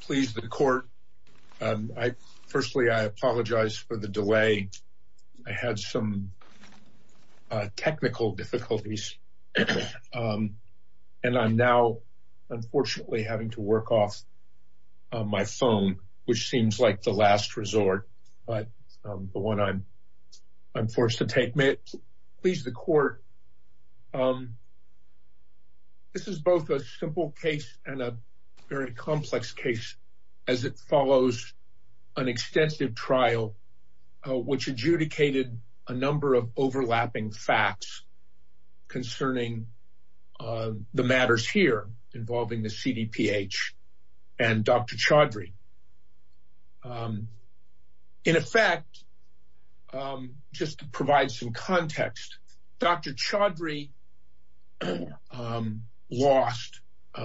Please the court. Firstly, I apologize for the delay. I had some technical difficulties and I'm now unfortunately having to work off my phone which seems like the last resort but the one I'm I'm forced to take. Please the court. This is both a simple case and a very complex case as it follows an extensive trial which adjudicated a number of overlapping facts concerning the matters here involving the CDPH and Dr. Chaudhry. In effect, just to provide some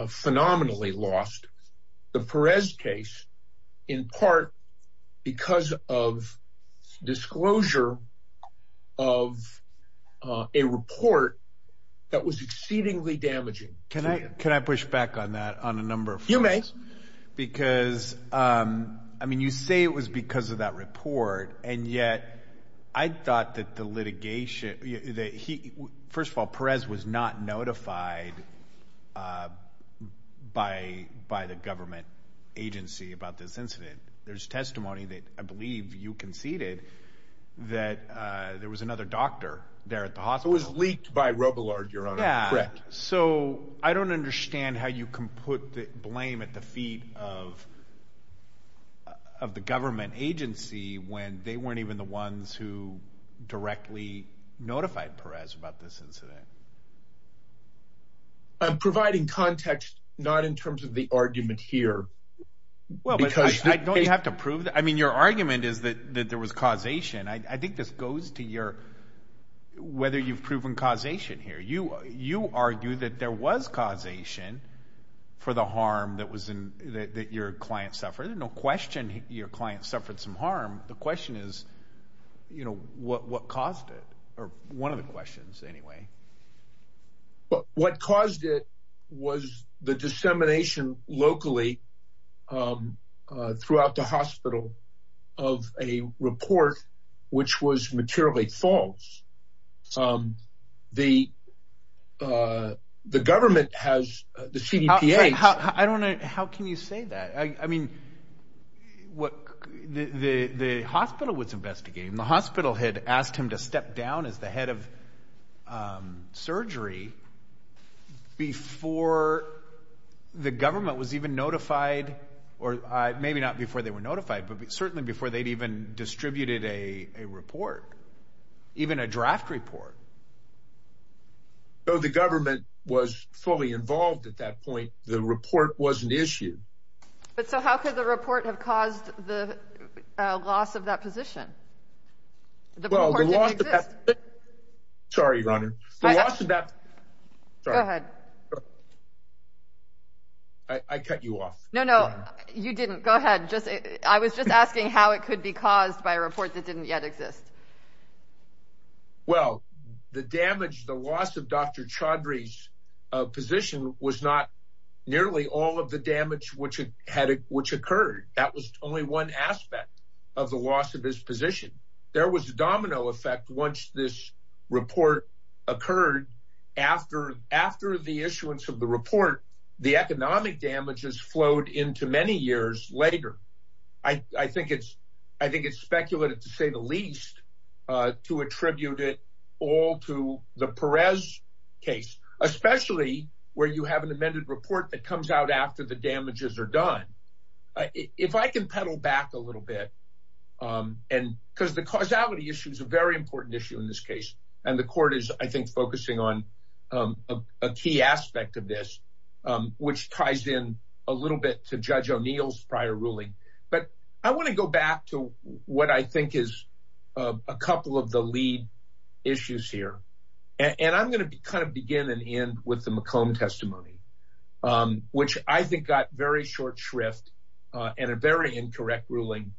phenomenally lost the Perez case in part because of disclosure of a report that was exceedingly damaging. Can I can I push back on that on a number of you may because I mean you say it was because of that report and yet I thought that the by by the government agency about this incident. There's testimony that I believe you conceded that there was another doctor there at the hospital was leaked by Robillard. You're correct. So I don't understand how you can put the blame at the feet of of the government agency when they weren't even the ones who directly notified Perez about this incident. I'm providing context not in terms of the argument here. Well because you have to prove that I mean your argument is that that there was causation. I think this goes to your whether you've proven causation here. You you argue that there was causation for the harm that was in that your client suffered. No question your client suffered some harm. The question is you know what what caused it one of the questions anyway. But what caused it was the dissemination locally throughout the hospital of a report which was materially false. The the government has the CDPA. I don't know how can you say that I mean what the the hospital was investigating the hospital had asked him to step down as the head of surgery before the government was even notified or maybe not before they were notified but certainly before they'd even distributed a report even a draft report. Though the government was fully involved at that point the report wasn't issued. But so how could the report have caused the loss of that position? Sorry your honor. I cut you off. No no you didn't go ahead just I was just asking how it could be caused by a report that didn't yet exist. Well the damage the loss of Dr. Chaudhry's position was not nearly all of the damage which had which occurred. That was only one aspect of the loss of his position. There was a domino effect once this report occurred after after the issuance of the report the economic damages flowed into many years later. I the Perez case especially where you have an amended report that comes out after the damages are done. If I can pedal back a little bit and because the causality issue is a very important issue in this case and the court is I think focusing on a key aspect of this which ties in a little bit to Judge O'Neill's prior ruling. But I want to go back to what I think is a couple of the issues here and I'm gonna kind of begin and end with the McComb testimony which I think got very short shrift and a very incorrect ruling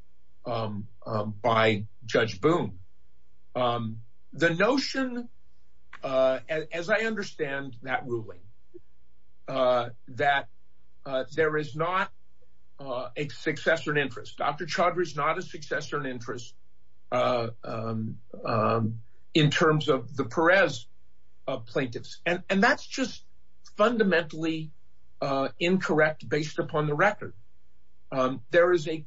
by Judge Boone. The notion as I understand that ruling that there is not a successor in interest. Dr. in terms of the Perez plaintiffs and and that's just fundamentally incorrect based upon the record. There is a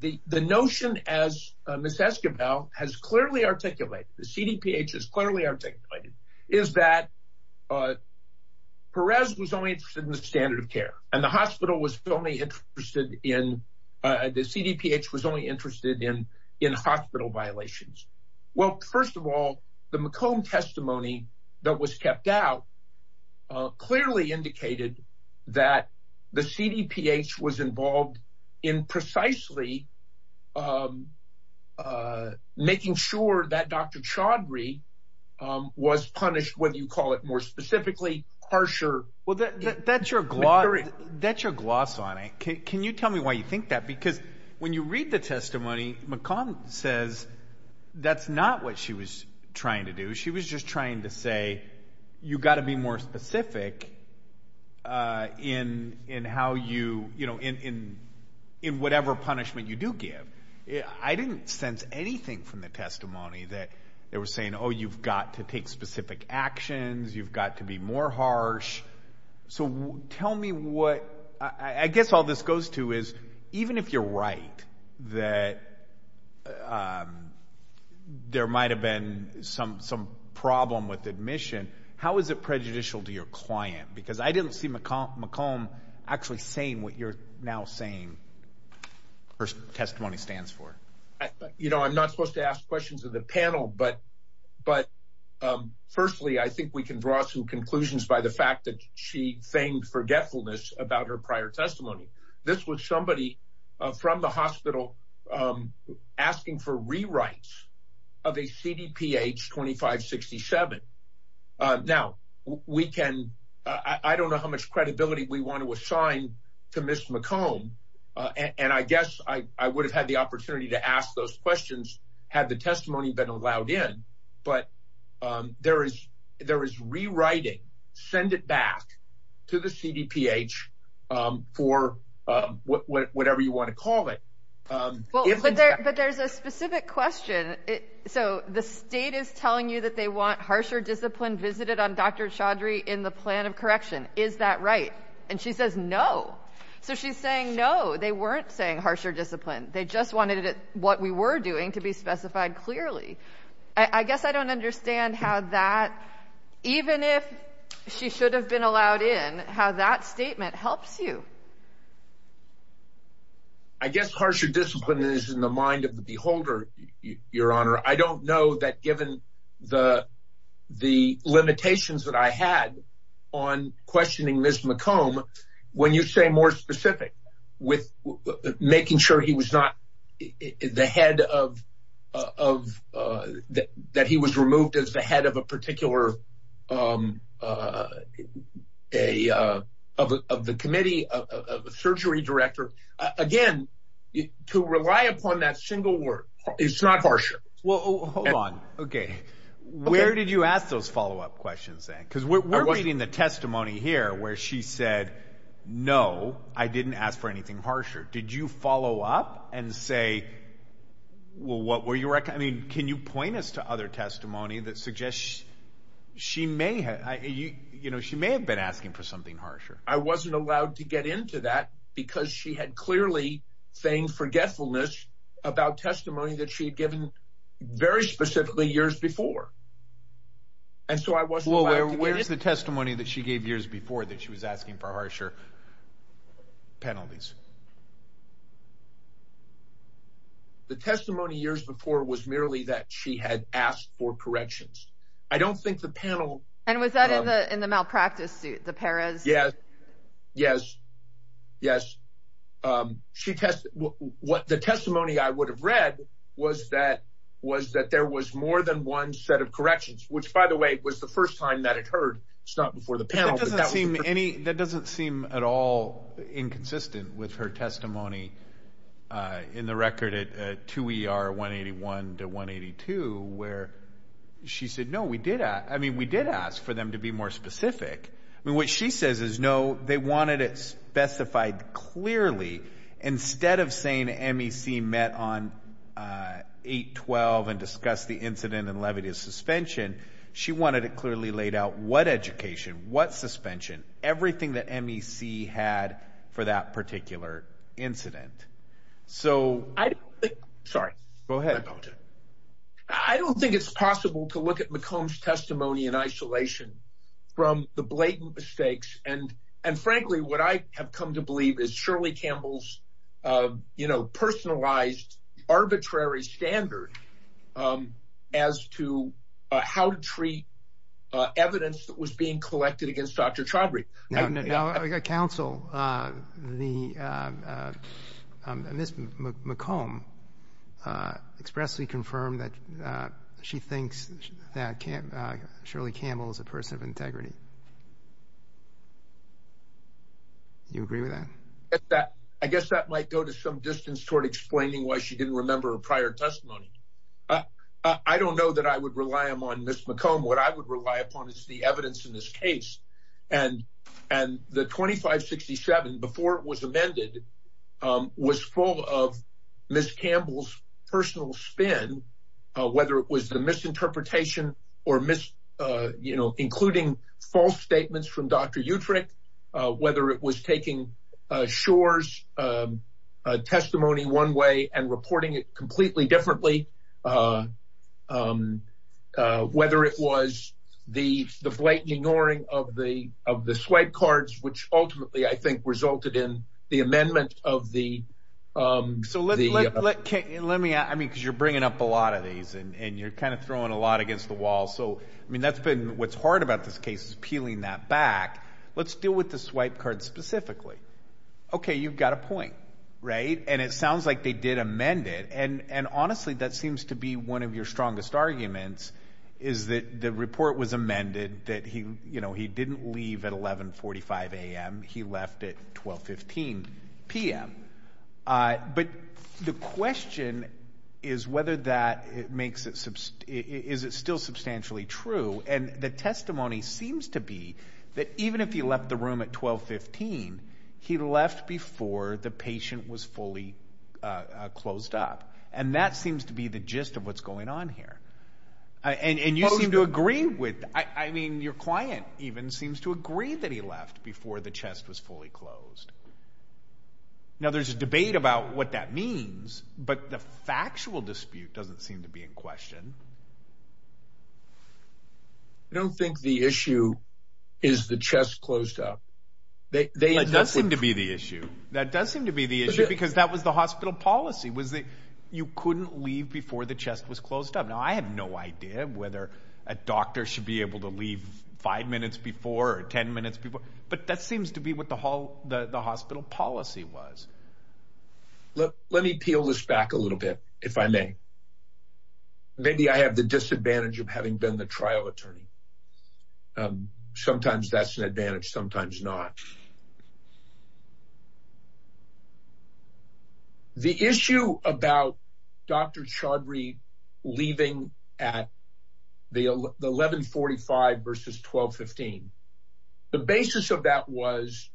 the the notion as Miss Esquivel has clearly articulated the CDPH is clearly articulated is that Perez was only interested in the standard of care and the hospital was only interested in the First of all the McComb testimony that was kept out clearly indicated that the CDPH was involved in precisely making sure that Dr. Chaudhry was punished whether you call it more specifically harsher. Well that's your gloss that's your gloss on it. Can you tell me why you think that because when you read the testimony McComb says that's not what she was trying to do. She was just trying to say you gotta be more specific in in how you you know in in in whatever punishment you do give. I didn't sense anything from the testimony that they were saying oh you've got to take specific actions you've got to be more harsh. So tell me what I guess all this goes to is even if you're right that there might have been some some problem with admission how is it prejudicial to your client because I didn't see McComb actually saying what you're now saying her testimony stands for. You know I'm not supposed to ask questions of the fact that she famed forgetfulness about her prior testimony. This was somebody from the hospital asking for rewrites of a CDPH 2567. Now we can I don't know how much credibility we want to assign to Ms. McComb and I guess I would have had the opportunity to ask those questions had the testimony been allowed in but there is there is rewriting send it back to the CDPH for whatever you want to call it. But there's a specific question it so the state is telling you that they want harsher discipline visited on Dr. Chaudhry in the plan of correction is that right and she says no. So she's saying no they weren't saying harsher discipline they just wanted it what we were doing to be specified clearly. I guess I don't understand how that even if she should have been allowed in how that statement helps you. I guess harsher discipline is in the mind of the beholder your honor. I don't know that given the the limitations that I had on questioning Ms. McComb when you say more specific with making sure he was not the head of of that he was removed as the head of a particular a of the committee of a surgery director again to rely upon that single word it's not harsher. Well hold on okay where did you ask those follow-up questions then because we're reading the testimony here where she said no I didn't ask for anything harsher did you follow up and say well what were you reckon I mean can you point us to other testimony that suggests she may have you know she may have been asking for something harsher. I wasn't allowed to get into that because she had clearly saying forgetfulness about testimony that she had given very specifically years before and so I wasn't where's the testimony that she gave years before that she was asking for harsher penalties. The testimony years before was merely that she had asked for corrections. I don't think the panel and was that in the in the malpractice yes yes yes um she tested what the testimony I would have read was that was that there was more than one set of corrections which by the way was the first time that it heard it's not before the panel but that doesn't seem any that doesn't seem at all inconsistent with her testimony uh in the record at 2 ER 181 to 182 where she said no we did I mean we did ask for them to be more specific I mean what she says is no they wanted it specified clearly instead of saying MEC met on uh 812 and discussed the incident and levity of suspension she wanted it clearly laid out what education what suspension everything that MEC had for that particular incident so sorry go ahead I don't think it's possible to look at McComb's testimony in isolation from the blatant mistakes and and frankly what I have come to believe is Shirley Campbell's uh you know personalized arbitrary standard um as to uh how to treat uh evidence that was being uh expressedly confirmed that uh she thinks that can't uh Shirley Campbell is a person of integrity you agree with that that I guess that might go to some distance toward explaining why she didn't remember her prior testimony uh I don't know that I would rely on Miss McComb what I would rely upon is the evidence in this case and and the 2567 before it was amended um was full of Miss Campbell's personal spin uh whether it was the misinterpretation or miss uh you know including false statements from Dr. Utrecht uh whether it was taking uh Shor's uh testimony one way and reporting it completely differently uh um uh whether it was the the blatant ignoring of the of the swipe cards which ultimately I think resulted in the amendment of the um so let me I mean because you're bringing up a lot of these and and you're kind of throwing a lot against the wall so I mean that's been what's hard about this case is peeling that back let's deal with the swipe specifically okay you've got a point right and it sounds like they did amend it and and honestly that seems to be one of your strongest arguments is that the report was amended that he you know he didn't leave at 11 45 a.m he left at 12 15 p.m uh but the question is whether that it makes it is it still substantially true and the testimony seems to be that even if he left the room at 12 15 he left before the patient was fully uh closed up and that seems to be the gist of what's going on here and and you seem to agree with I I mean your client even seems to agree that he left before the chest was fully closed now there's a debate about what that means but the factual dispute doesn't seem to be in question I don't think the issue is the chest closed up they they that doesn't seem to be the issue that does seem to be the issue because that was the hospital policy was that you couldn't leave before the chest was closed up now I have no idea whether a doctor should be able to leave five minutes before or 10 minutes before but that seems to be the case maybe I have the disadvantage of having been the trial attorney sometimes that's an advantage sometimes not the issue about Dr. Chaudhry leaving at the 11 45 versus 12 15 the basis of that was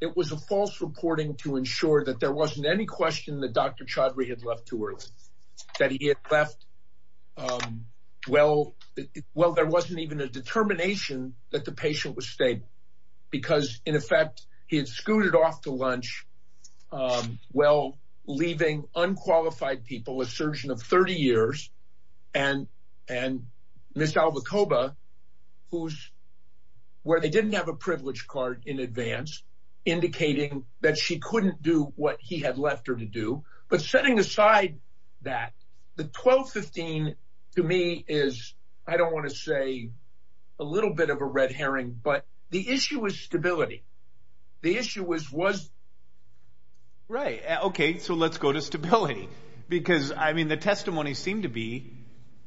it was a false reporting to ensure that there wasn't any question that Dr. Chaudhry had left too early that he had left um well well there wasn't even a determination that the patient was stable because in effect he had scooted off to lunch um well leaving unqualified people a surgeon of 30 years and and Miss Alvacoba who's where they didn't have a privilege card in advance indicating that she couldn't do what he had left her to do but setting aside that the 12 15 to me is I don't want to say a little bit of a red herring but the issue is stability the issue was was right okay so let's go to stability because I mean the testimony seemed to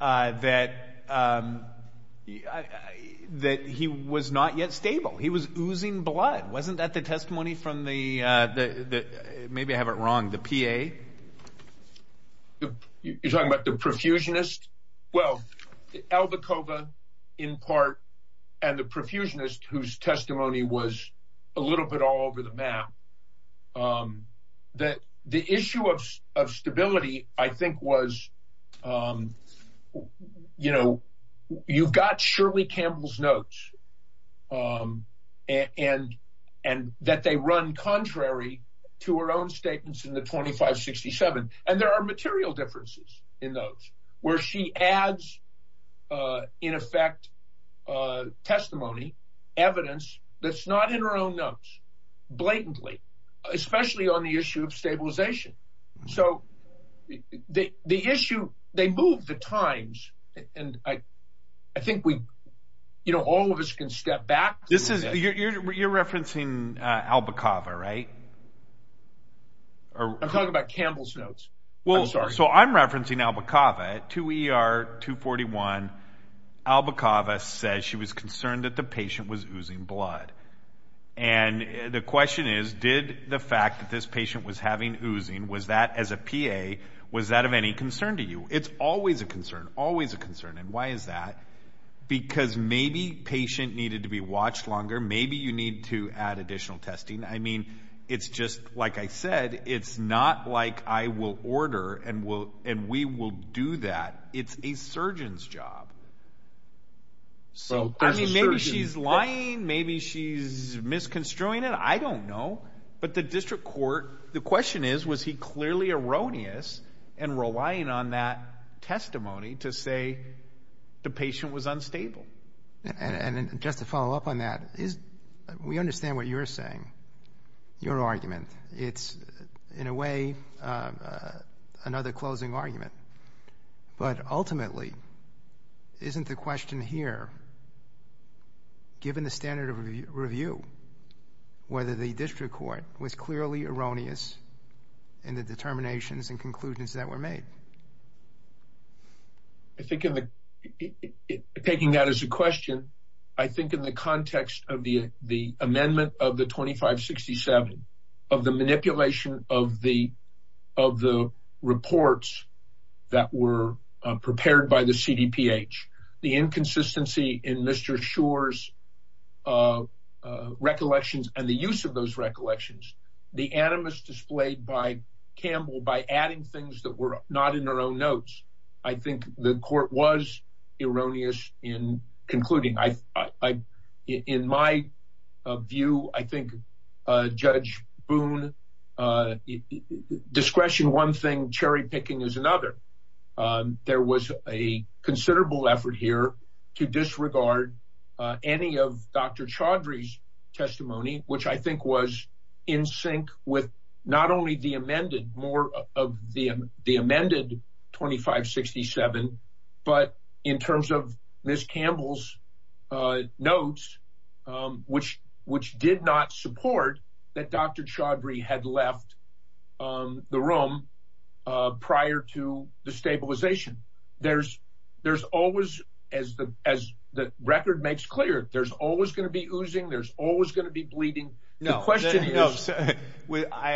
uh that um that he was not yet stable he was oozing blood wasn't that the testimony from the uh the the maybe I have it wrong the PA you're talking about the profusionist well Alvacoba in part and the profusionist whose testimony was a little bit all over the map um that the issue of of stability I think was um you know you've got Shirley Campbell's notes um and and that they run contrary to her own statements in the 2567 and there are material differences in those where she adds uh in effect uh testimony evidence that's not in her own notes blatantly especially on the issue of stabilization so the the issue they move the times and I I think we you know all of us can step back this is you're you're referencing uh Alvacoba right or I'm talking about Campbell's notes well sorry so I'm referencing Alvacoba at 2 ER 241 Alvacoba says she was concerned that the patient was oozing blood and the question is did the fact that this patient was having oozing was that as a PA was that of any concern to you it's always a concern always a concern and why is that because maybe patient needed to be watched longer maybe you need to add additional testing I mean it's just like I said it's not like I will order and will and we will do that it's a surgeon's job so I mean maybe she's lying maybe she's misconstruing it I don't know but the district court the question is was he clearly erroneous and relying on that testimony to say the patient was unstable and and just to follow up on that is we understand what you're saying your argument it's in a way another closing argument but ultimately isn't the question here given the standard of review whether the district court was clearly erroneous in the determinations and conclusions that were made I think in the taking that as a question I think in the context of the the amendment of the 2567 of the manipulation of the of the reports that were prepared by the CDPH the inconsistency in Mr. Schor's recollections and the use of those recollections the animus displayed by by adding things that were not in their own notes I think the court was erroneous in concluding I in my view I think Judge Boone discretion one thing cherry picking is another there was a considerable effort here to disregard any of Dr. Chaudhry's testimony which I think was in sync with not only the amended more of the the amended 2567 but in terms of Ms. Campbell's notes which which did not support that Dr. Chaudhry had left the room prior to the stabilization there's there's always as the as the record makes clear there's always going to be I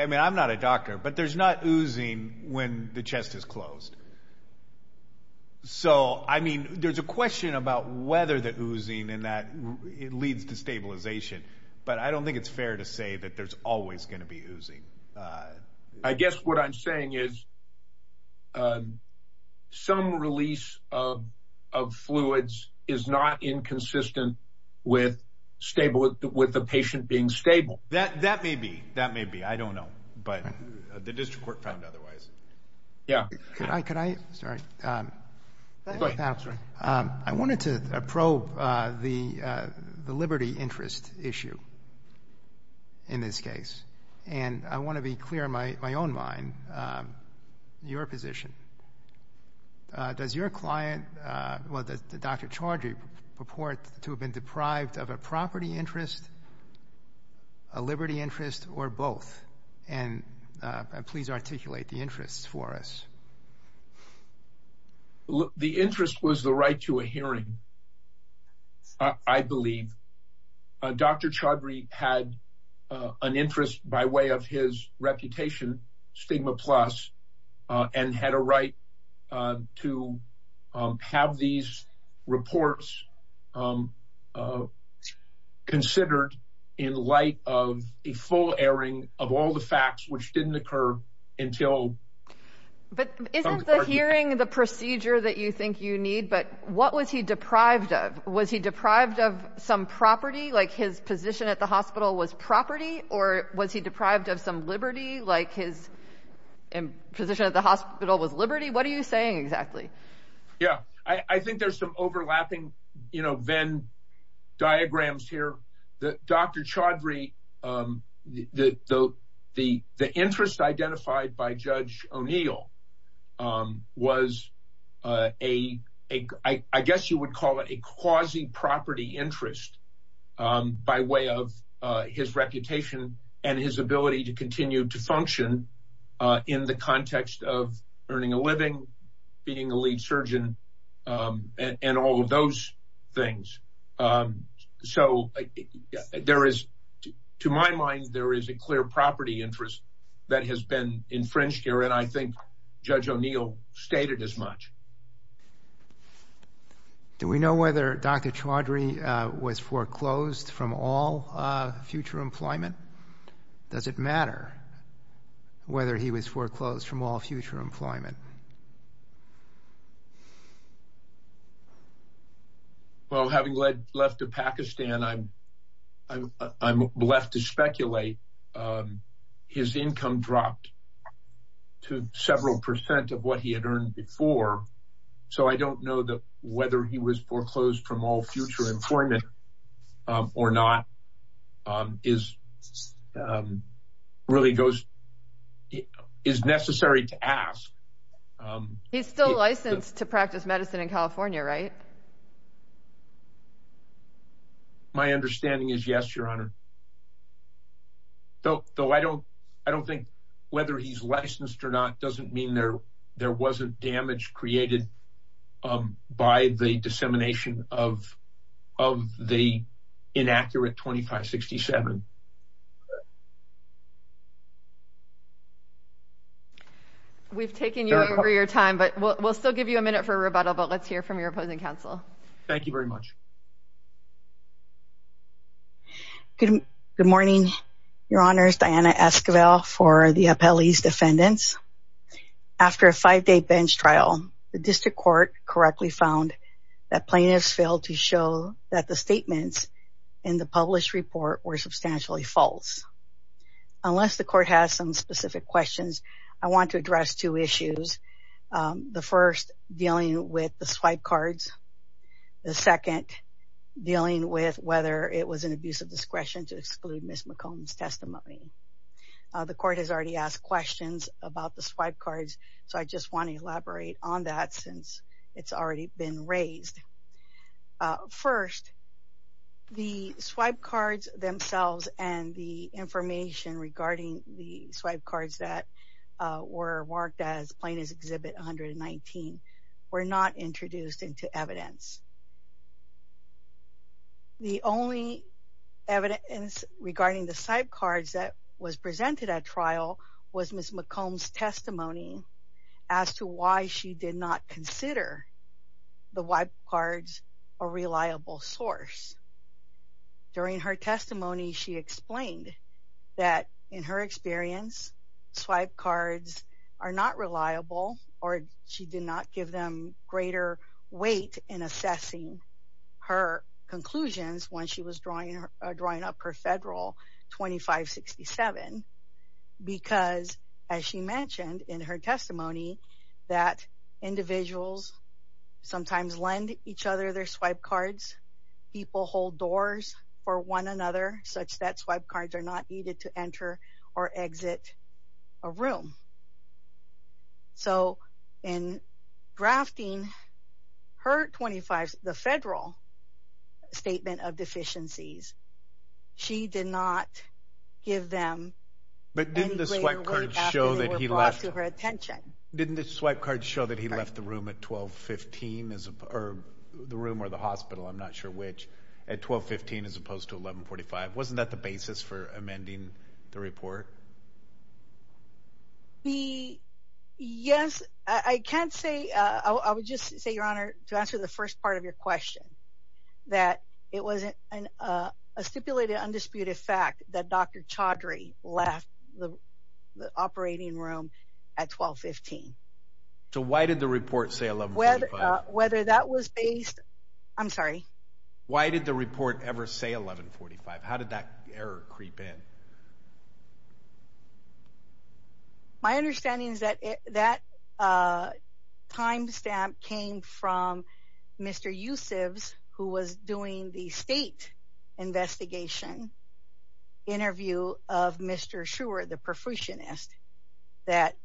mean I'm not a doctor but there's not oozing when the chest is closed so I mean there's a question about whether the oozing and that it leads to stabilization but I don't think it's fair to say that there's always going to be oozing I guess what I'm saying is some release of of fluids is not inconsistent with stable with the patient being stable that that may be that may be I don't know but the district court found otherwise yeah could I could I sorry I wanted to probe the the liberty interest issue in this case and I want to be clear in my my own mind your position does your client well that Dr. Chaudhry purport to have been deprived of a property interest a liberty interest or both and please articulate the interest for us the interest was the right to a hearing I believe Dr. Chaudhry had an interest by way of his considered in light of a full airing of all the facts which didn't occur until but isn't the hearing the procedure that you think you need but what was he deprived of was he deprived of some property like his position at the hospital was property or was he deprived of some liberty like his position at the hospital was liberty what are you saying exactly yeah I think there's some overlapping you know Venn diagrams here that Dr. Chaudhry the the the the interest identified by Judge O'Neill was a I guess you would call it a quasi property interest by way of his reputation and his ability to continue to function in the context of earning a living being a lead surgeon and all of those things so there is to my mind there is a clear property interest that has been infringed here and I think Judge O'Neill stated as much do we know whether Dr. Chaudhry was foreclosed from all future employment does it matter whether he was foreclosed from all future employment well having led left of Pakistan I'm I'm I'm left to speculate his income dropped to several percent of what he had earned before so I don't know that whether he was foreclosed from all future employment or not is really goes it is necessary to ask he's still licensed to practice medicine in California right my understanding is yes your honor though though I don't I don't think whether he's licensed or not doesn't mean there there wasn't damage created by the dissemination of of the inaccurate 2567 okay we've taken you over your time but we'll still give you a minute for a rebuttal but let's hear from your opposing counsel thank you very much good morning your honors Diana Esquivel for the appellees defendants after a five-day bench trial the district court correctly found that plaintiffs failed to show that the statements in the published report were substantially false unless the court has some specific questions I want to address two issues the first dealing with the swipe cards the second dealing with whether it was an abuse of discretion to exclude Miss McComb's testimony the court has already asked questions about the swipe cards so I just want that since it's already been raised first the swipe cards themselves and the information regarding the swipe cards that were marked as plaintiff's exhibit 119 were not introduced into evidence the only evidence regarding the side cards that was presented at trial was Miss McComb's testimony as to why she did not consider the wipe cards a reliable source during her testimony she explained that in her experience swipe cards are not reliable or she did not give them greater weight in assessing her conclusions when she was drawing her drawing up her federal 2567 because as she mentioned in her testimony that individuals sometimes lend each other their swipe cards people hold doors for one another such that swipe cards are not needed to not give them but didn't the swipe cards show that he left to her attention didn't the swipe cards show that he left the room at 12 15 or the room or the hospital I'm not sure which at 12 15 as opposed to 11 45 wasn't that the basis for amending the report the yes I can't say uh I would just say your honor to answer the first part of your question that it wasn't an uh a stipulated undisputed fact that Dr. Chaudhry left the operating room at 12 15 so why did the report say 11 whether that was based I'm sorry why did the report ever say 11 45 how did that error creep in my understanding is that it that uh timestamp came from Mr. Yusef's who was doing the state investigation interview of Mr. Schrewer the perfusionist that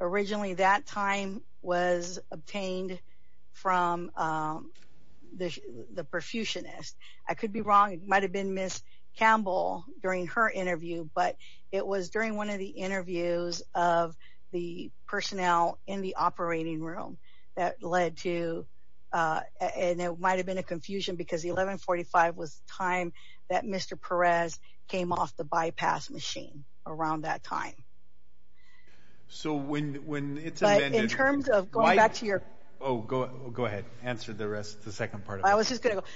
originally that time was obtained from um the the perfusionist I could be wrong it might have been Ms. Campbell during her interview but it was during one of the interviews of the personnel in the operating room that led to uh and it might have been a confusion because 11 45 was time that Mr. Perez came off the bypass machine around that time so when when it's in terms of going back to your oh go go ahead answer the rest the second part I was just going to go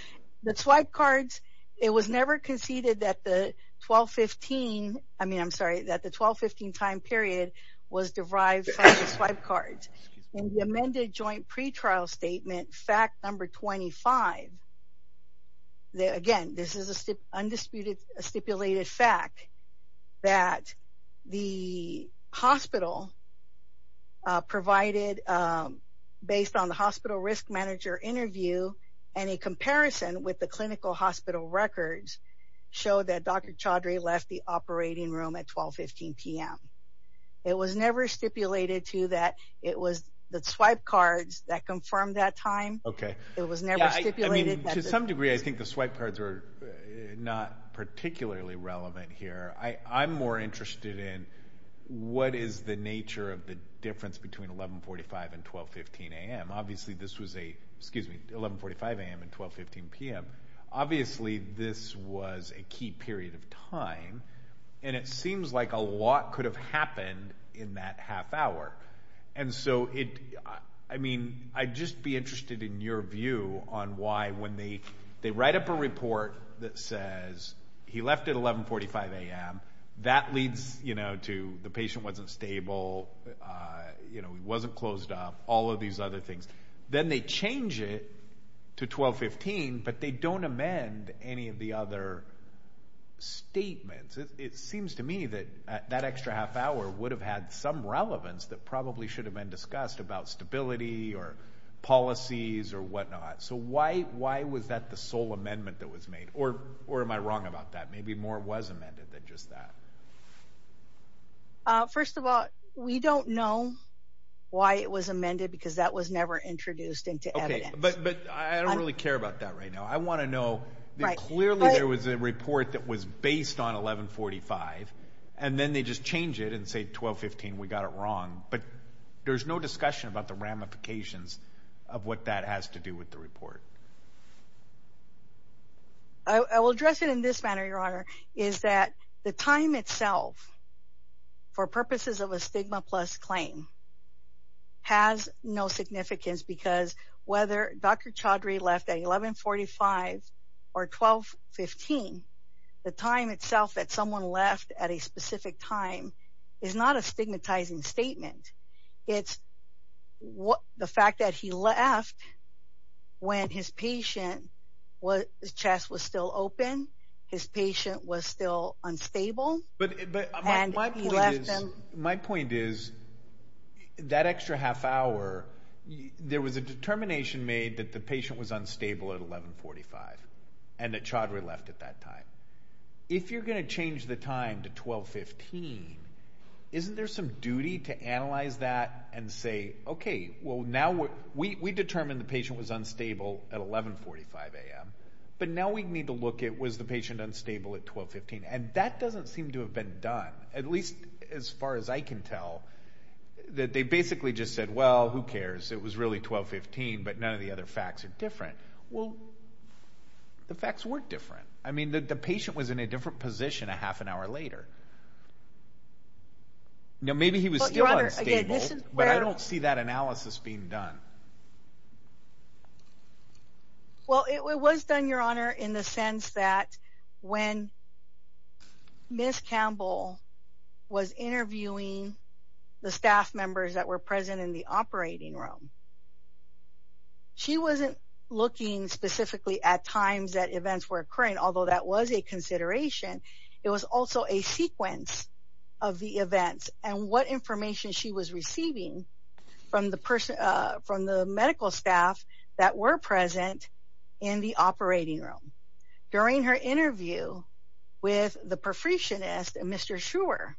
the swipe cards it was never conceded that the 12 15 I mean I'm sorry that the 12 15 time period was derived from the swipe cards in the amended joint pretrial statement fact number 25 that again this is a undisputed stipulated fact that the hospital uh provided um based on the hospital risk manager interview and a comparison with the clinical hospital records showed that Dr. Chaudhry left the operating room at 12 15 p.m. it was never stipulated to that it was the swipe cards that confirmed that time okay it was never stipulated to some degree I think the swipe cards are not particularly relevant here I I'm more interested in what is the nature of the 12 15 p.m. obviously this was a key period of time and it seems like a lot could have happened in that half hour and so it I mean I'd just be interested in your view on why when they they write up a report that says he left at 11 45 a.m. that leads you know to the patient wasn't stable uh you know he wasn't closed up all of these other things then they change it to 12 15 but they don't amend any of the other statements it seems to me that that extra half hour would have had some relevance that probably should have been discussed about stability or policies or whatnot so why why was that the sole amendment that was made or or am I wrong about that maybe more was amended than just that uh first of all we don't know why it was amended because that was never introduced into evidence but but I don't really care about that right now I want to know right clearly there was a report that was based on 11 45 and then they just change it and say 12 15 we got it wrong but there's no discussion about the ramifications of what that has to do with the is that the time itself for purposes of a stigma plus claim has no significance because whether Dr. Chaudhry left at 11 45 or 12 15 the time itself that someone left at a specific time is not a stigmatizing statement it's what the fact that he left when his patient was his chest was still open his patient was still unstable but but my point is my point is that extra half hour there was a determination made that the patient was unstable at 11 45 and that Chaudhry left at that time if you're going to change the time to 12 15 isn't there some duty to analyze that and say okay well now we we determined the patient was unstable at 11 45 a.m but now we need to look at was the patient unstable at 12 15 and that doesn't seem to have been done at least as far as I can tell that they basically just said well who cares it was really 12 15 but none of the other facts are different well the facts were different I mean the patient was in a different position a half an hour later now maybe he was but I don't see that analysis being done well it was done your honor in the sense that when Miss Campbell was interviewing the staff members that were present in the operating room she wasn't looking specifically at times that events were occurring although that was a consideration it was also a sequence of the events and what information she was receiving from the person from the medical staff that were present in the operating room during her interview with the perfectionist and Mr. Schrewer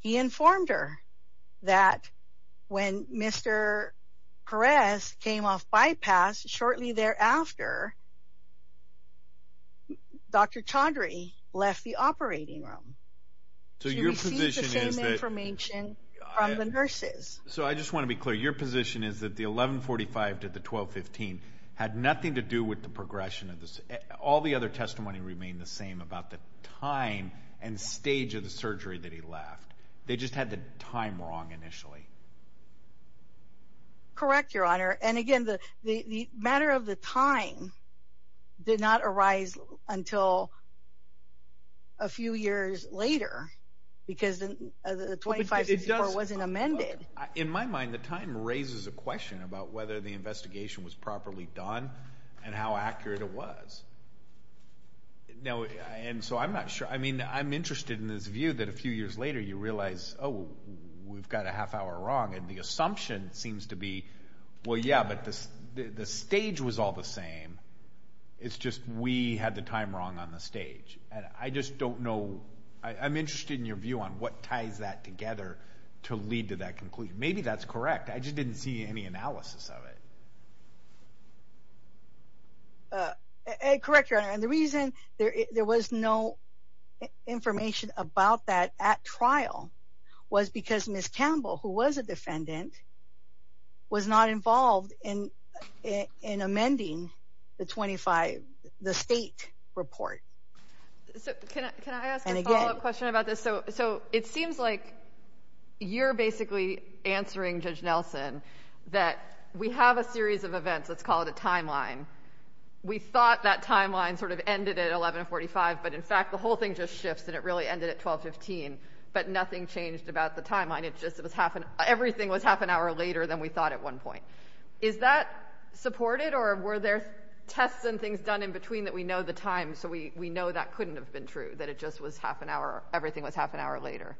he informed her that when Mr. Perez came off bypass shortly thereafter Dr. Chaudhry left the operating room so your position is the same information from the nurses so I just want to be clear your position is that the 11 45 to the 12 15 had nothing to do with the progression of this all the other testimony remained the same about the time and stage of the surgery that he left they just had the time wrong initially correct your honor and again the the matter of the time did not arise until a few years later because the 25 64 wasn't amended in my mind the time raises a question about whether the investigation was properly done and how accurate it was now and so I'm not sure I mean I'm interested in this view that a few years later you realize oh we've got a half hour wrong and the assumption seems to be well yeah but this the stage was all the same it's just we had the time wrong on the stage and I just don't know I'm interested in your view on what ties that together to lead to that conclusion maybe that's correct I just didn't see any analysis of it uh correct your honor and the reason there there was no information about that at trial was because miss campbell who was a defendant was not involved in in amending the 25 the state report so can I ask a follow-up question about this so so it seems like you're basically answering judge nelson that we have a series of events let's call it a timeline we thought that timeline sort of ended at 11 45 but in fact the whole thing just shifts and really ended at 12 15 but nothing changed about the timeline it just was half an everything was half an hour later than we thought at one point is that supported or were there tests and things done in between that we know the time so we we know that couldn't have been true that it just was half an hour everything was half an hour later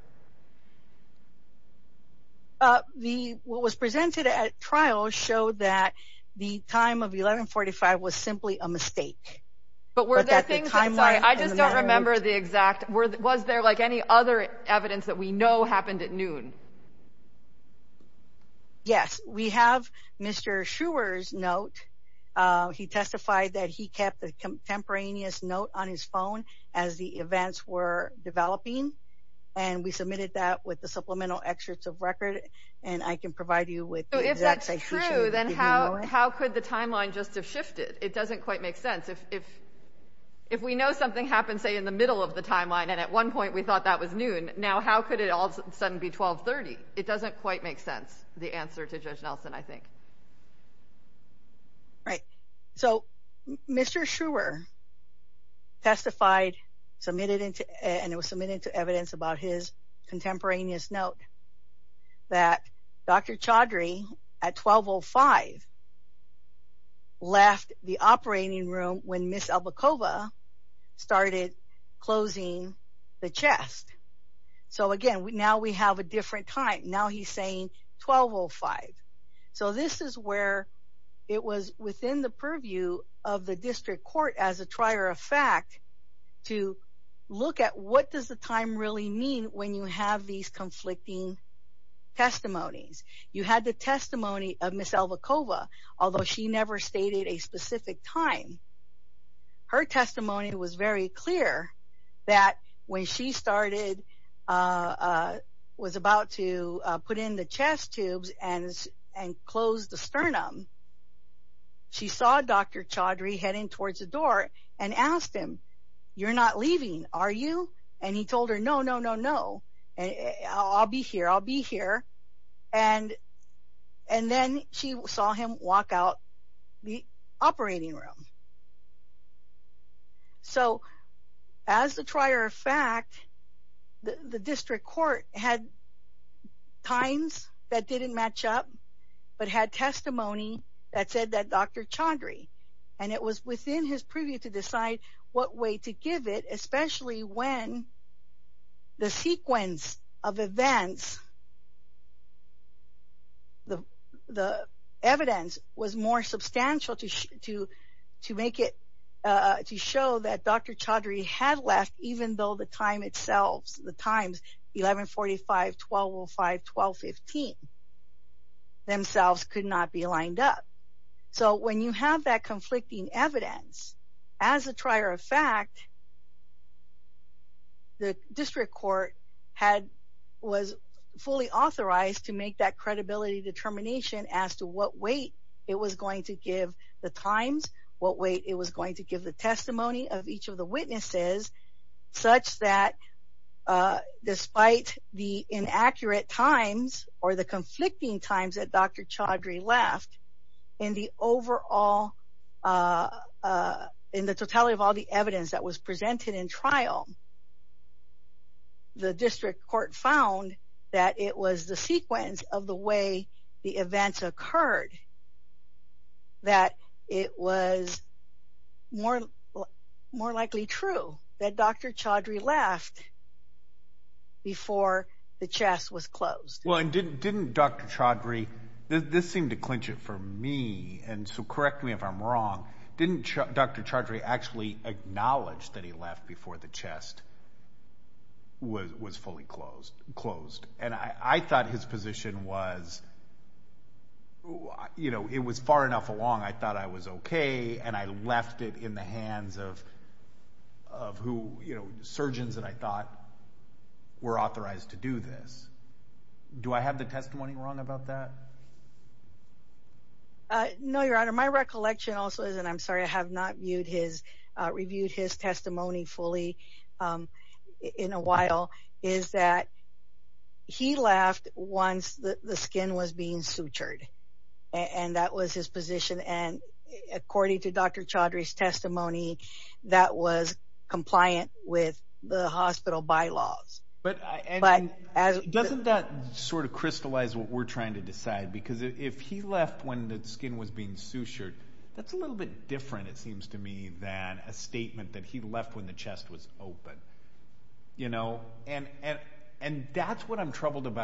uh the what was presented at trial showed that the time of 11 45 was simply a mistake but were there things inside I just don't remember the exact word was there like any other evidence that we know happened at noon yes we have mr schuer's note uh he testified that he kept the contemporaneous note on his phone as the events were developing and we submitted that with the supplemental excerpts of record and I can provide you with so if that's true then how how could the timeline just have shifted it if we know something happened say in the middle of the timeline and at one point we thought that was noon now how could it all of a sudden be 12 30 it doesn't quite make sense the answer to judge nelson I think right so mr schuer testified submitted into and it was submitted to evidence about his contemporaneous note that dr chaudry at 1205 left the operating room when miss albacova started closing the chest so again now we have a different time now he's saying 1205 so this is where it was within the purview of the district court as a trier of fact to look at what does the time really mean when you have these conflicting testimonies you had the testimony of miss albacova although she never stated a specific time her testimony was very clear that when she started uh was about to put in the chest tubes and and close the sternum she saw dr chaudry heading towards the door and asked him you're not leaving are you and he told her no no no no I'll be here I'll be here and and then she saw him walk out the operating room so as the trier of fact the district court had times that didn't match up but had testimony that said that dr chaudry and it was within his purview to decide what way to give it especially when the sequence of events the the evidence was more substantial to to to make it uh to show that dr chaudry had left even though the time itself the times 11 45 12 5 12 15 themselves could not be lined up so when you have that conflicting evidence as a trier of fact the district court had was fully authorized to make that credibility determination as to what weight it was going to give the times what weight it was going to give the testimony of each of the witnesses such that uh despite the inaccurate times or the conflicting times that dr chaudry left in the overall uh uh in the totality of all the evidence that was presented in trial the district court found that it was the sequence of the way the events occurred that it was more more likely true that dr chaudry left before the chest was closed well and didn't didn't dr chaudry this seemed to clinch it for me and so correct me if i'm wrong didn't dr chaudry actually acknowledged that he left before the chest was was fully closed closed and i i thought his position was you know it was far enough along i thought i was okay and i left it in the hands of of who you know surgeons that i thought were authorized to do this do i have the testimony wrong about that uh no your honor my recollection also is and i'm sorry i have not viewed his uh reviewed his testimony fully um in a while is that he laughed once the the skin was being sutured and that was his position and according to dr chaudry's testimony that was compliant with the hospital bylaws but but as doesn't that sort of crystallize what we're trying to decide because if he left when the skin was being sutured that's a little bit different it seems to me than a statement that he left when the chest was open you know and and and that's what i'm reporting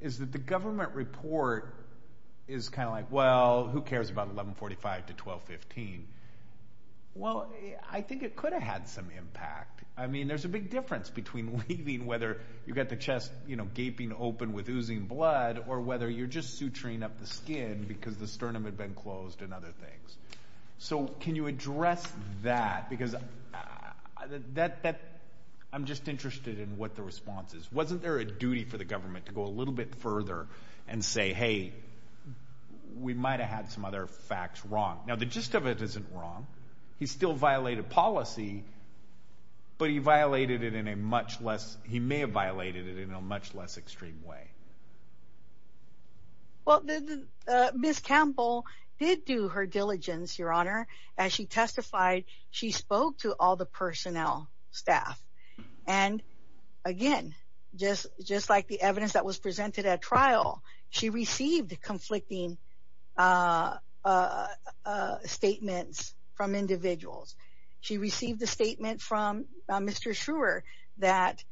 is that the government report is kind of like well who cares about 11 45 to 12 15 well i think it could have had some impact i mean there's a big difference between leaving whether you've got the chest you know gaping open with oozing blood or whether you're just suturing up the skin because the sternum had been closed and other things so can you address that because i that that i'm just interested in what the response is wasn't there a duty for the government to go a little bit further and say hey we might have had some other facts wrong now the gist of it isn't wrong he still violated policy but he violated it in a much less he may have violated it in a much less extreme way well the uh miss campbell did do her diligence your honor as she testified she spoke to all the personnel staff and again just just like the evidence that was presented at trial she received conflicting uh uh uh statements from individuals she received the statement from mr schreuer that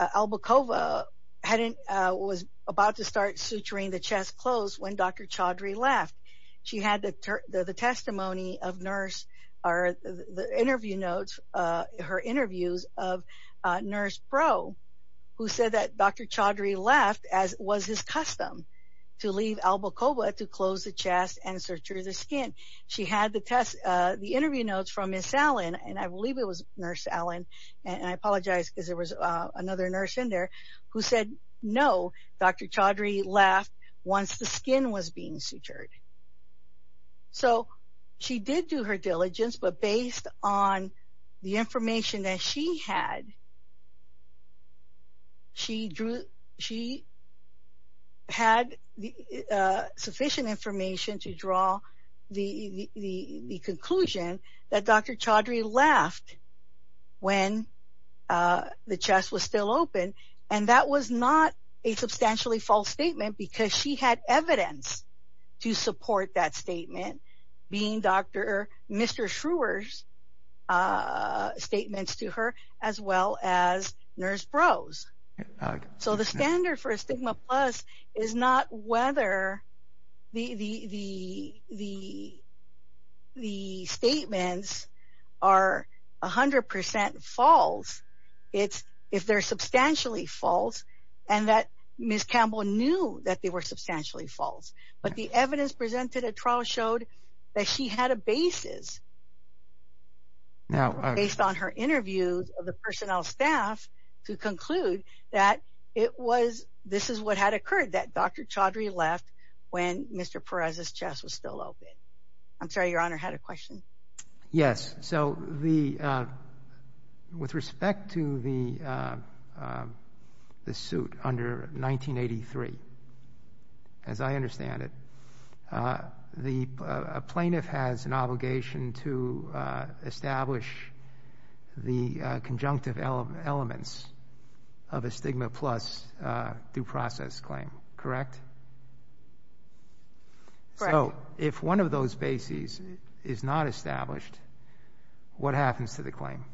albacova hadn't uh was about to start suturing the chest closed when dr chaudry left she had the the testimony of nurse or the interview notes uh her interviews of uh nurse pro who said that dr chaudry left as was his custom to leave albacova to close the chest and suture the skin she had the test uh the interview notes from miss allen and i believe it was nurse allen and i apologize because there was uh another nurse in there who said no dr chaudry left once the skin was being sutured so she did do her diligence but based on the information that she had she drew she had the uh sufficient information to draw the the the conclusion that dr chaudry left when uh the chest was still open and that was not a substantially false statement because she had evidence to support that statement being dr mr schreuer's uh statements to her as well as nurse uh so the standard for a stigma plus is not whether the the the the the statements are a hundred percent false it's if they're substantially false and that miss campbell knew that they were substantially false but the evidence presented a trial showed that she had a basis now based on her interviews of the personnel staff to conclude that it was this is what had occurred that dr chaudry left when mr perez's chest was still open i'm sorry your honor had a question yes so the uh with respect to the uh the suit under 1983 as i understand it uh the plaintiff has an obligation to uh establish the conjunctive elements of a stigma plus uh due process claim correct so if one of those bases is not established what happens to the claim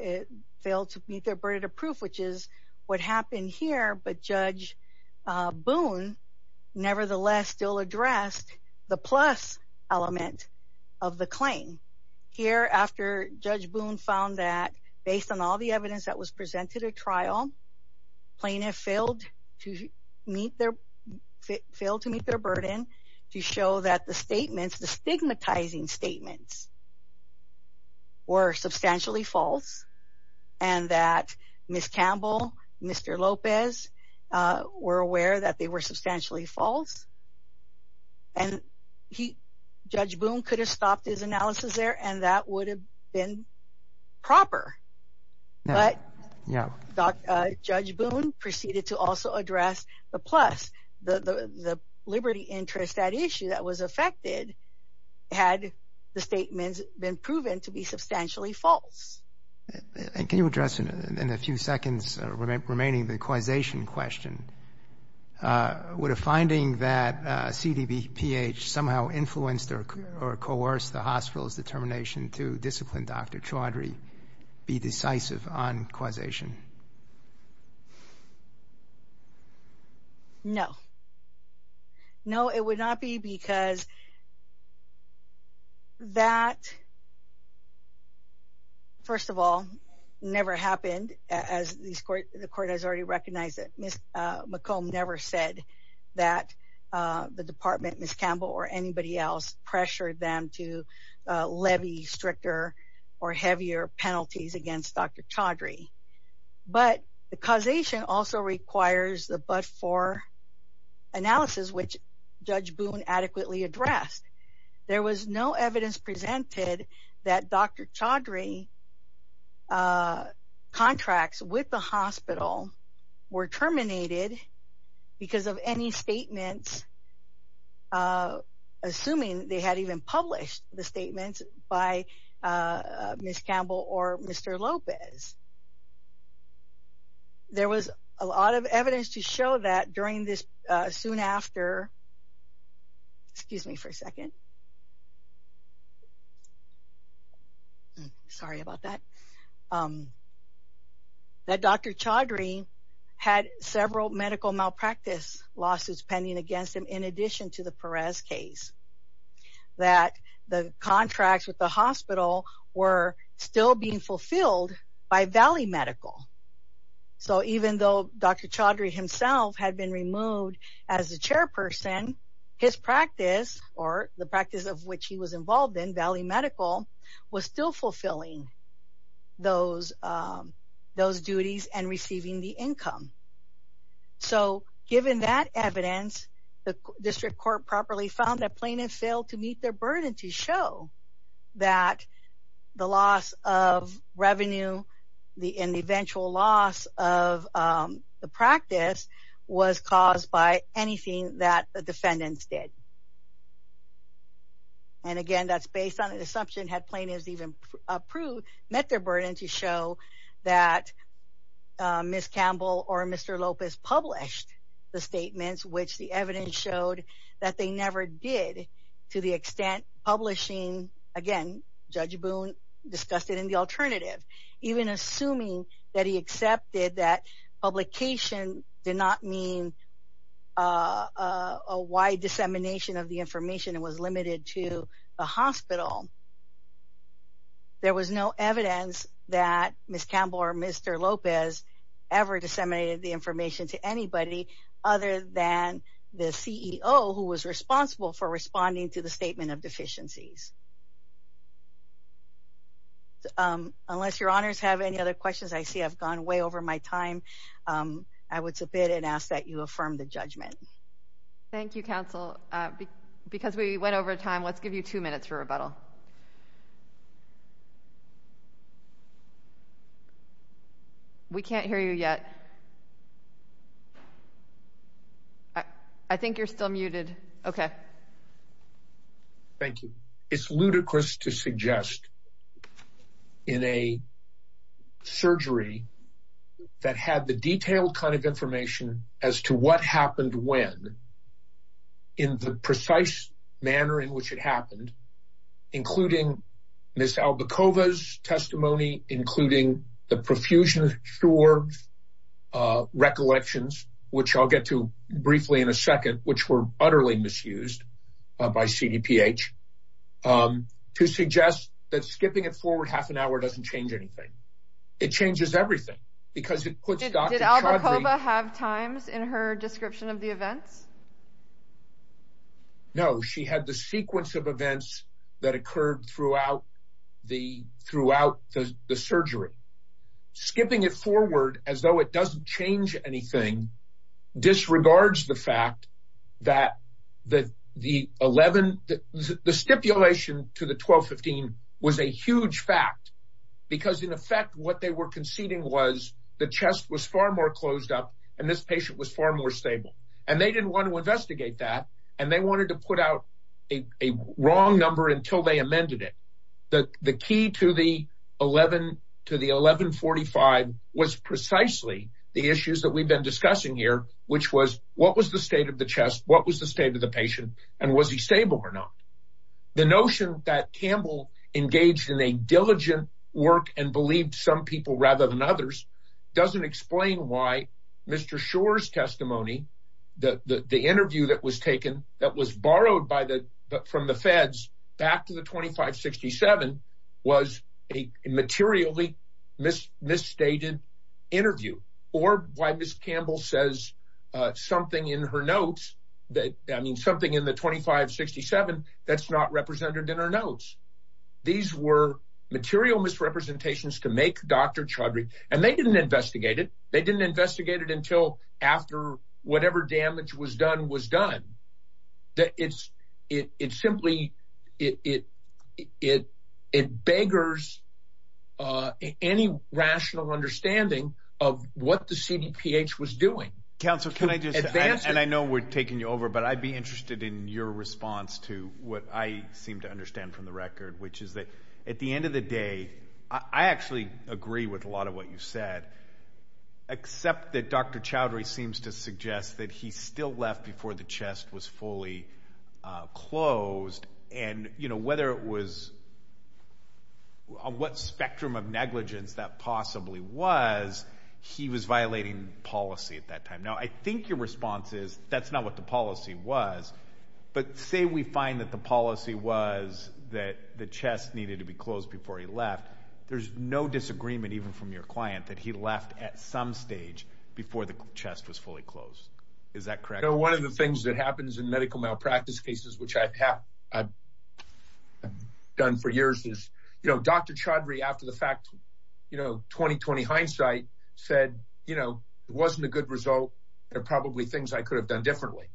it failed to meet their burden of proof which is what happened here but judge uh boone nevertheless still addressed the plus element of the claim here after judge boone found that based on all the evidence that was presented a trial plaintiff failed to meet their failed to meet their burden to show that the statements the stigmatizing statements were substantially false and that miss campbell mr lopez uh were aware that they were substantially false and he judge boone could have stopped his analysis there and that would have been proper but yeah uh judge boone proceeded to also address the plus the the liberty interest that can you address in a few seconds remaining the causation question uh would a finding that cdb ph somehow influenced or coerced the hospital's determination to discipline dr chaudry be decisive on causation no no it would not be because that that first of all never happened as these court the court has already recognized that miss uh mccomb never said that uh the department miss campbell or anybody else pressured them to levy stricter or heavier penalties against dr chaudry but the causation also requires the but for analysis which judge boone adequately addressed there was no evidence presented that dr chaudry uh contracts with the hospital were terminated because of any statements uh assuming they had even published the statements by uh miss campbell or mr lopez there was a lot of evidence to show that during this uh soon after excuse me for a second sorry about that um that dr chaudry had several medical malpractice lawsuits pending against him in addition to the perez case that the contracts with the hospital were still being fulfilled by valley medical so even though dr chaudry himself had been removed as the chairperson his practice or the practice of which he was involved in valley medical was still fulfilling those um those duties and receiving the income so given that evidence the district court properly found that plaintiffs failed to meet their burden to show that the loss of revenue the in the eventual loss of um the practice was caused by anything that the defendants did and again that's based on an assumption had plaintiffs even approved met their burden to show that miss campbell or mr lopez published the statements which the evidence showed that they never did to the extent publishing again judge boone discussed it in the alternative even assuming that he accepted that publication did not mean uh a wide dissemination of the information it was limited to the hospital there was no evidence that miss campbell or mr lopez ever disseminated the information to anybody other than the ceo who was responsible for responding to the statement of deficiencies unless your honors have any other questions i see i've gone way over my time um i would submit and ask that you affirm the judgment thank you counsel uh because we went over time let's give you two minutes for rebuttal so we can't hear you yet i i think you're still muted okay thank you it's ludicrous to suggest in a surgery that had the detailed kind of information as to what happened when in the precise manner in which it happened including miss albacova's testimony including the profusion of shore uh recollections which i'll get to briefly in a second which were utterly misused uh by cdph um to suggest that skipping it forward half an hour doesn't change anything it changes everything because it puts albacova have times in her description of the events no she had the sequence of events that occurred throughout the throughout the the surgery skipping it forward as though it doesn't change anything disregards the fact that the the 11th the stipulation to the 12 15 was a huge fact because in effect what they were conceding was the chest was far more closed up and this patient was far more stable and they didn't want to worry that and they wanted to put out a a wrong number until they amended it the the key to the 11 to the 11 45 was precisely the issues that we've been discussing here which was what was the state of the chest what was the state of the patient and was he stable or not the notion that campbell engaged in a diligent work and believed some people rather than others doesn't explain why mr shore's testimony the the interview that was taken that was borrowed by the from the feds back to the 2567 was a materially miss misstated interview or why miss campbell says uh something in her notes that i mean something in the 2567 that's not represented in her notes these were material misrepresentations to make dr chaudhry and they didn't investigate it they didn't investigate it until after whatever damage was done was done that it's it it simply it it it it beggars uh any rational understanding of what the cdph was doing council can i just and i know we're taking you over but i'd be interested in your response to what i seem to understand from the record which is that at the end of the day i i actually agree with a lot of what you said except that dr chaudhry seems to suggest that he still left before the chest was fully closed and you know whether it was on what spectrum of negligence that possibly was he was violating policy at that time now i think your response is that's not what the policy was but say we find that the policy was that the chest needed to be closed before he left there's no disagreement even from your client that he left at some stage before the chest was fully closed is that correct you know one of the things that happens in medical malpractice cases which i have i've done for years is you know dr chaudhry after the fact you know 2020 hindsight said you know it wasn't a good result there are probably things i could have done differently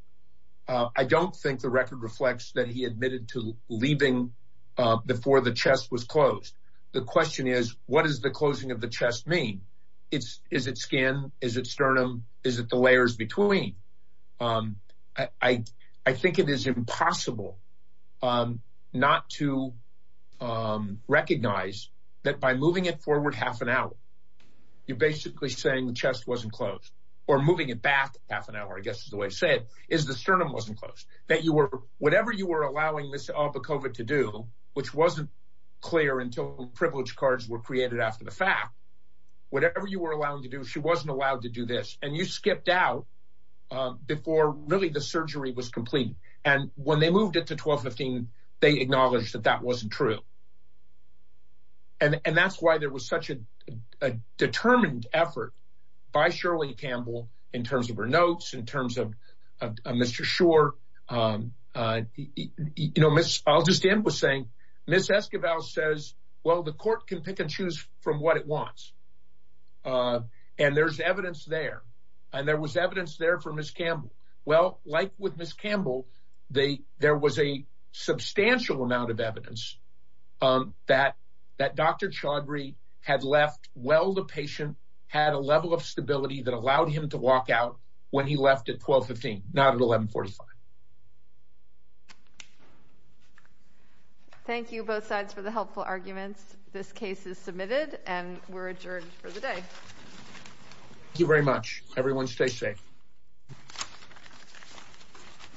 uh i don't think the record reflects that he admitted to leaving uh before the chest was closed the question is what does the closing of the chest mean it's is it skin is it sternum is it the layers between um i i think it is impossible um not to um recognize that by moving it forward half an hour you're basically saying the chest wasn't closed or moving it back half an hour i guess is the way to say it is the sternum wasn't closed that you were whatever you were allowing this albacova to do which wasn't clear until privilege cards were created after the fact whatever you were allowing to do she wasn't allowed to do this and you skipped out before really the surgery was complete and when they moved it to 12 15 they acknowledged that that wasn't true and and that's why there was such a determined effort by shirley campbell in terms of her notes in terms of mr shore um uh you know miss i'll just end with saying miss esquivel says well the court can pick and choose from what it wants uh and there's evidence there and there was evidence there for miss campbell well like with miss campbell they there was a substantial amount of evidence um that that dr chaudhary had left well the patient had a level of stability that allowed him to walk out when he left at 12 15 not at 11 45 thank you both sides for the helpful arguments this case is submitted and we're adjourned for the day thank you very much everyone stay safe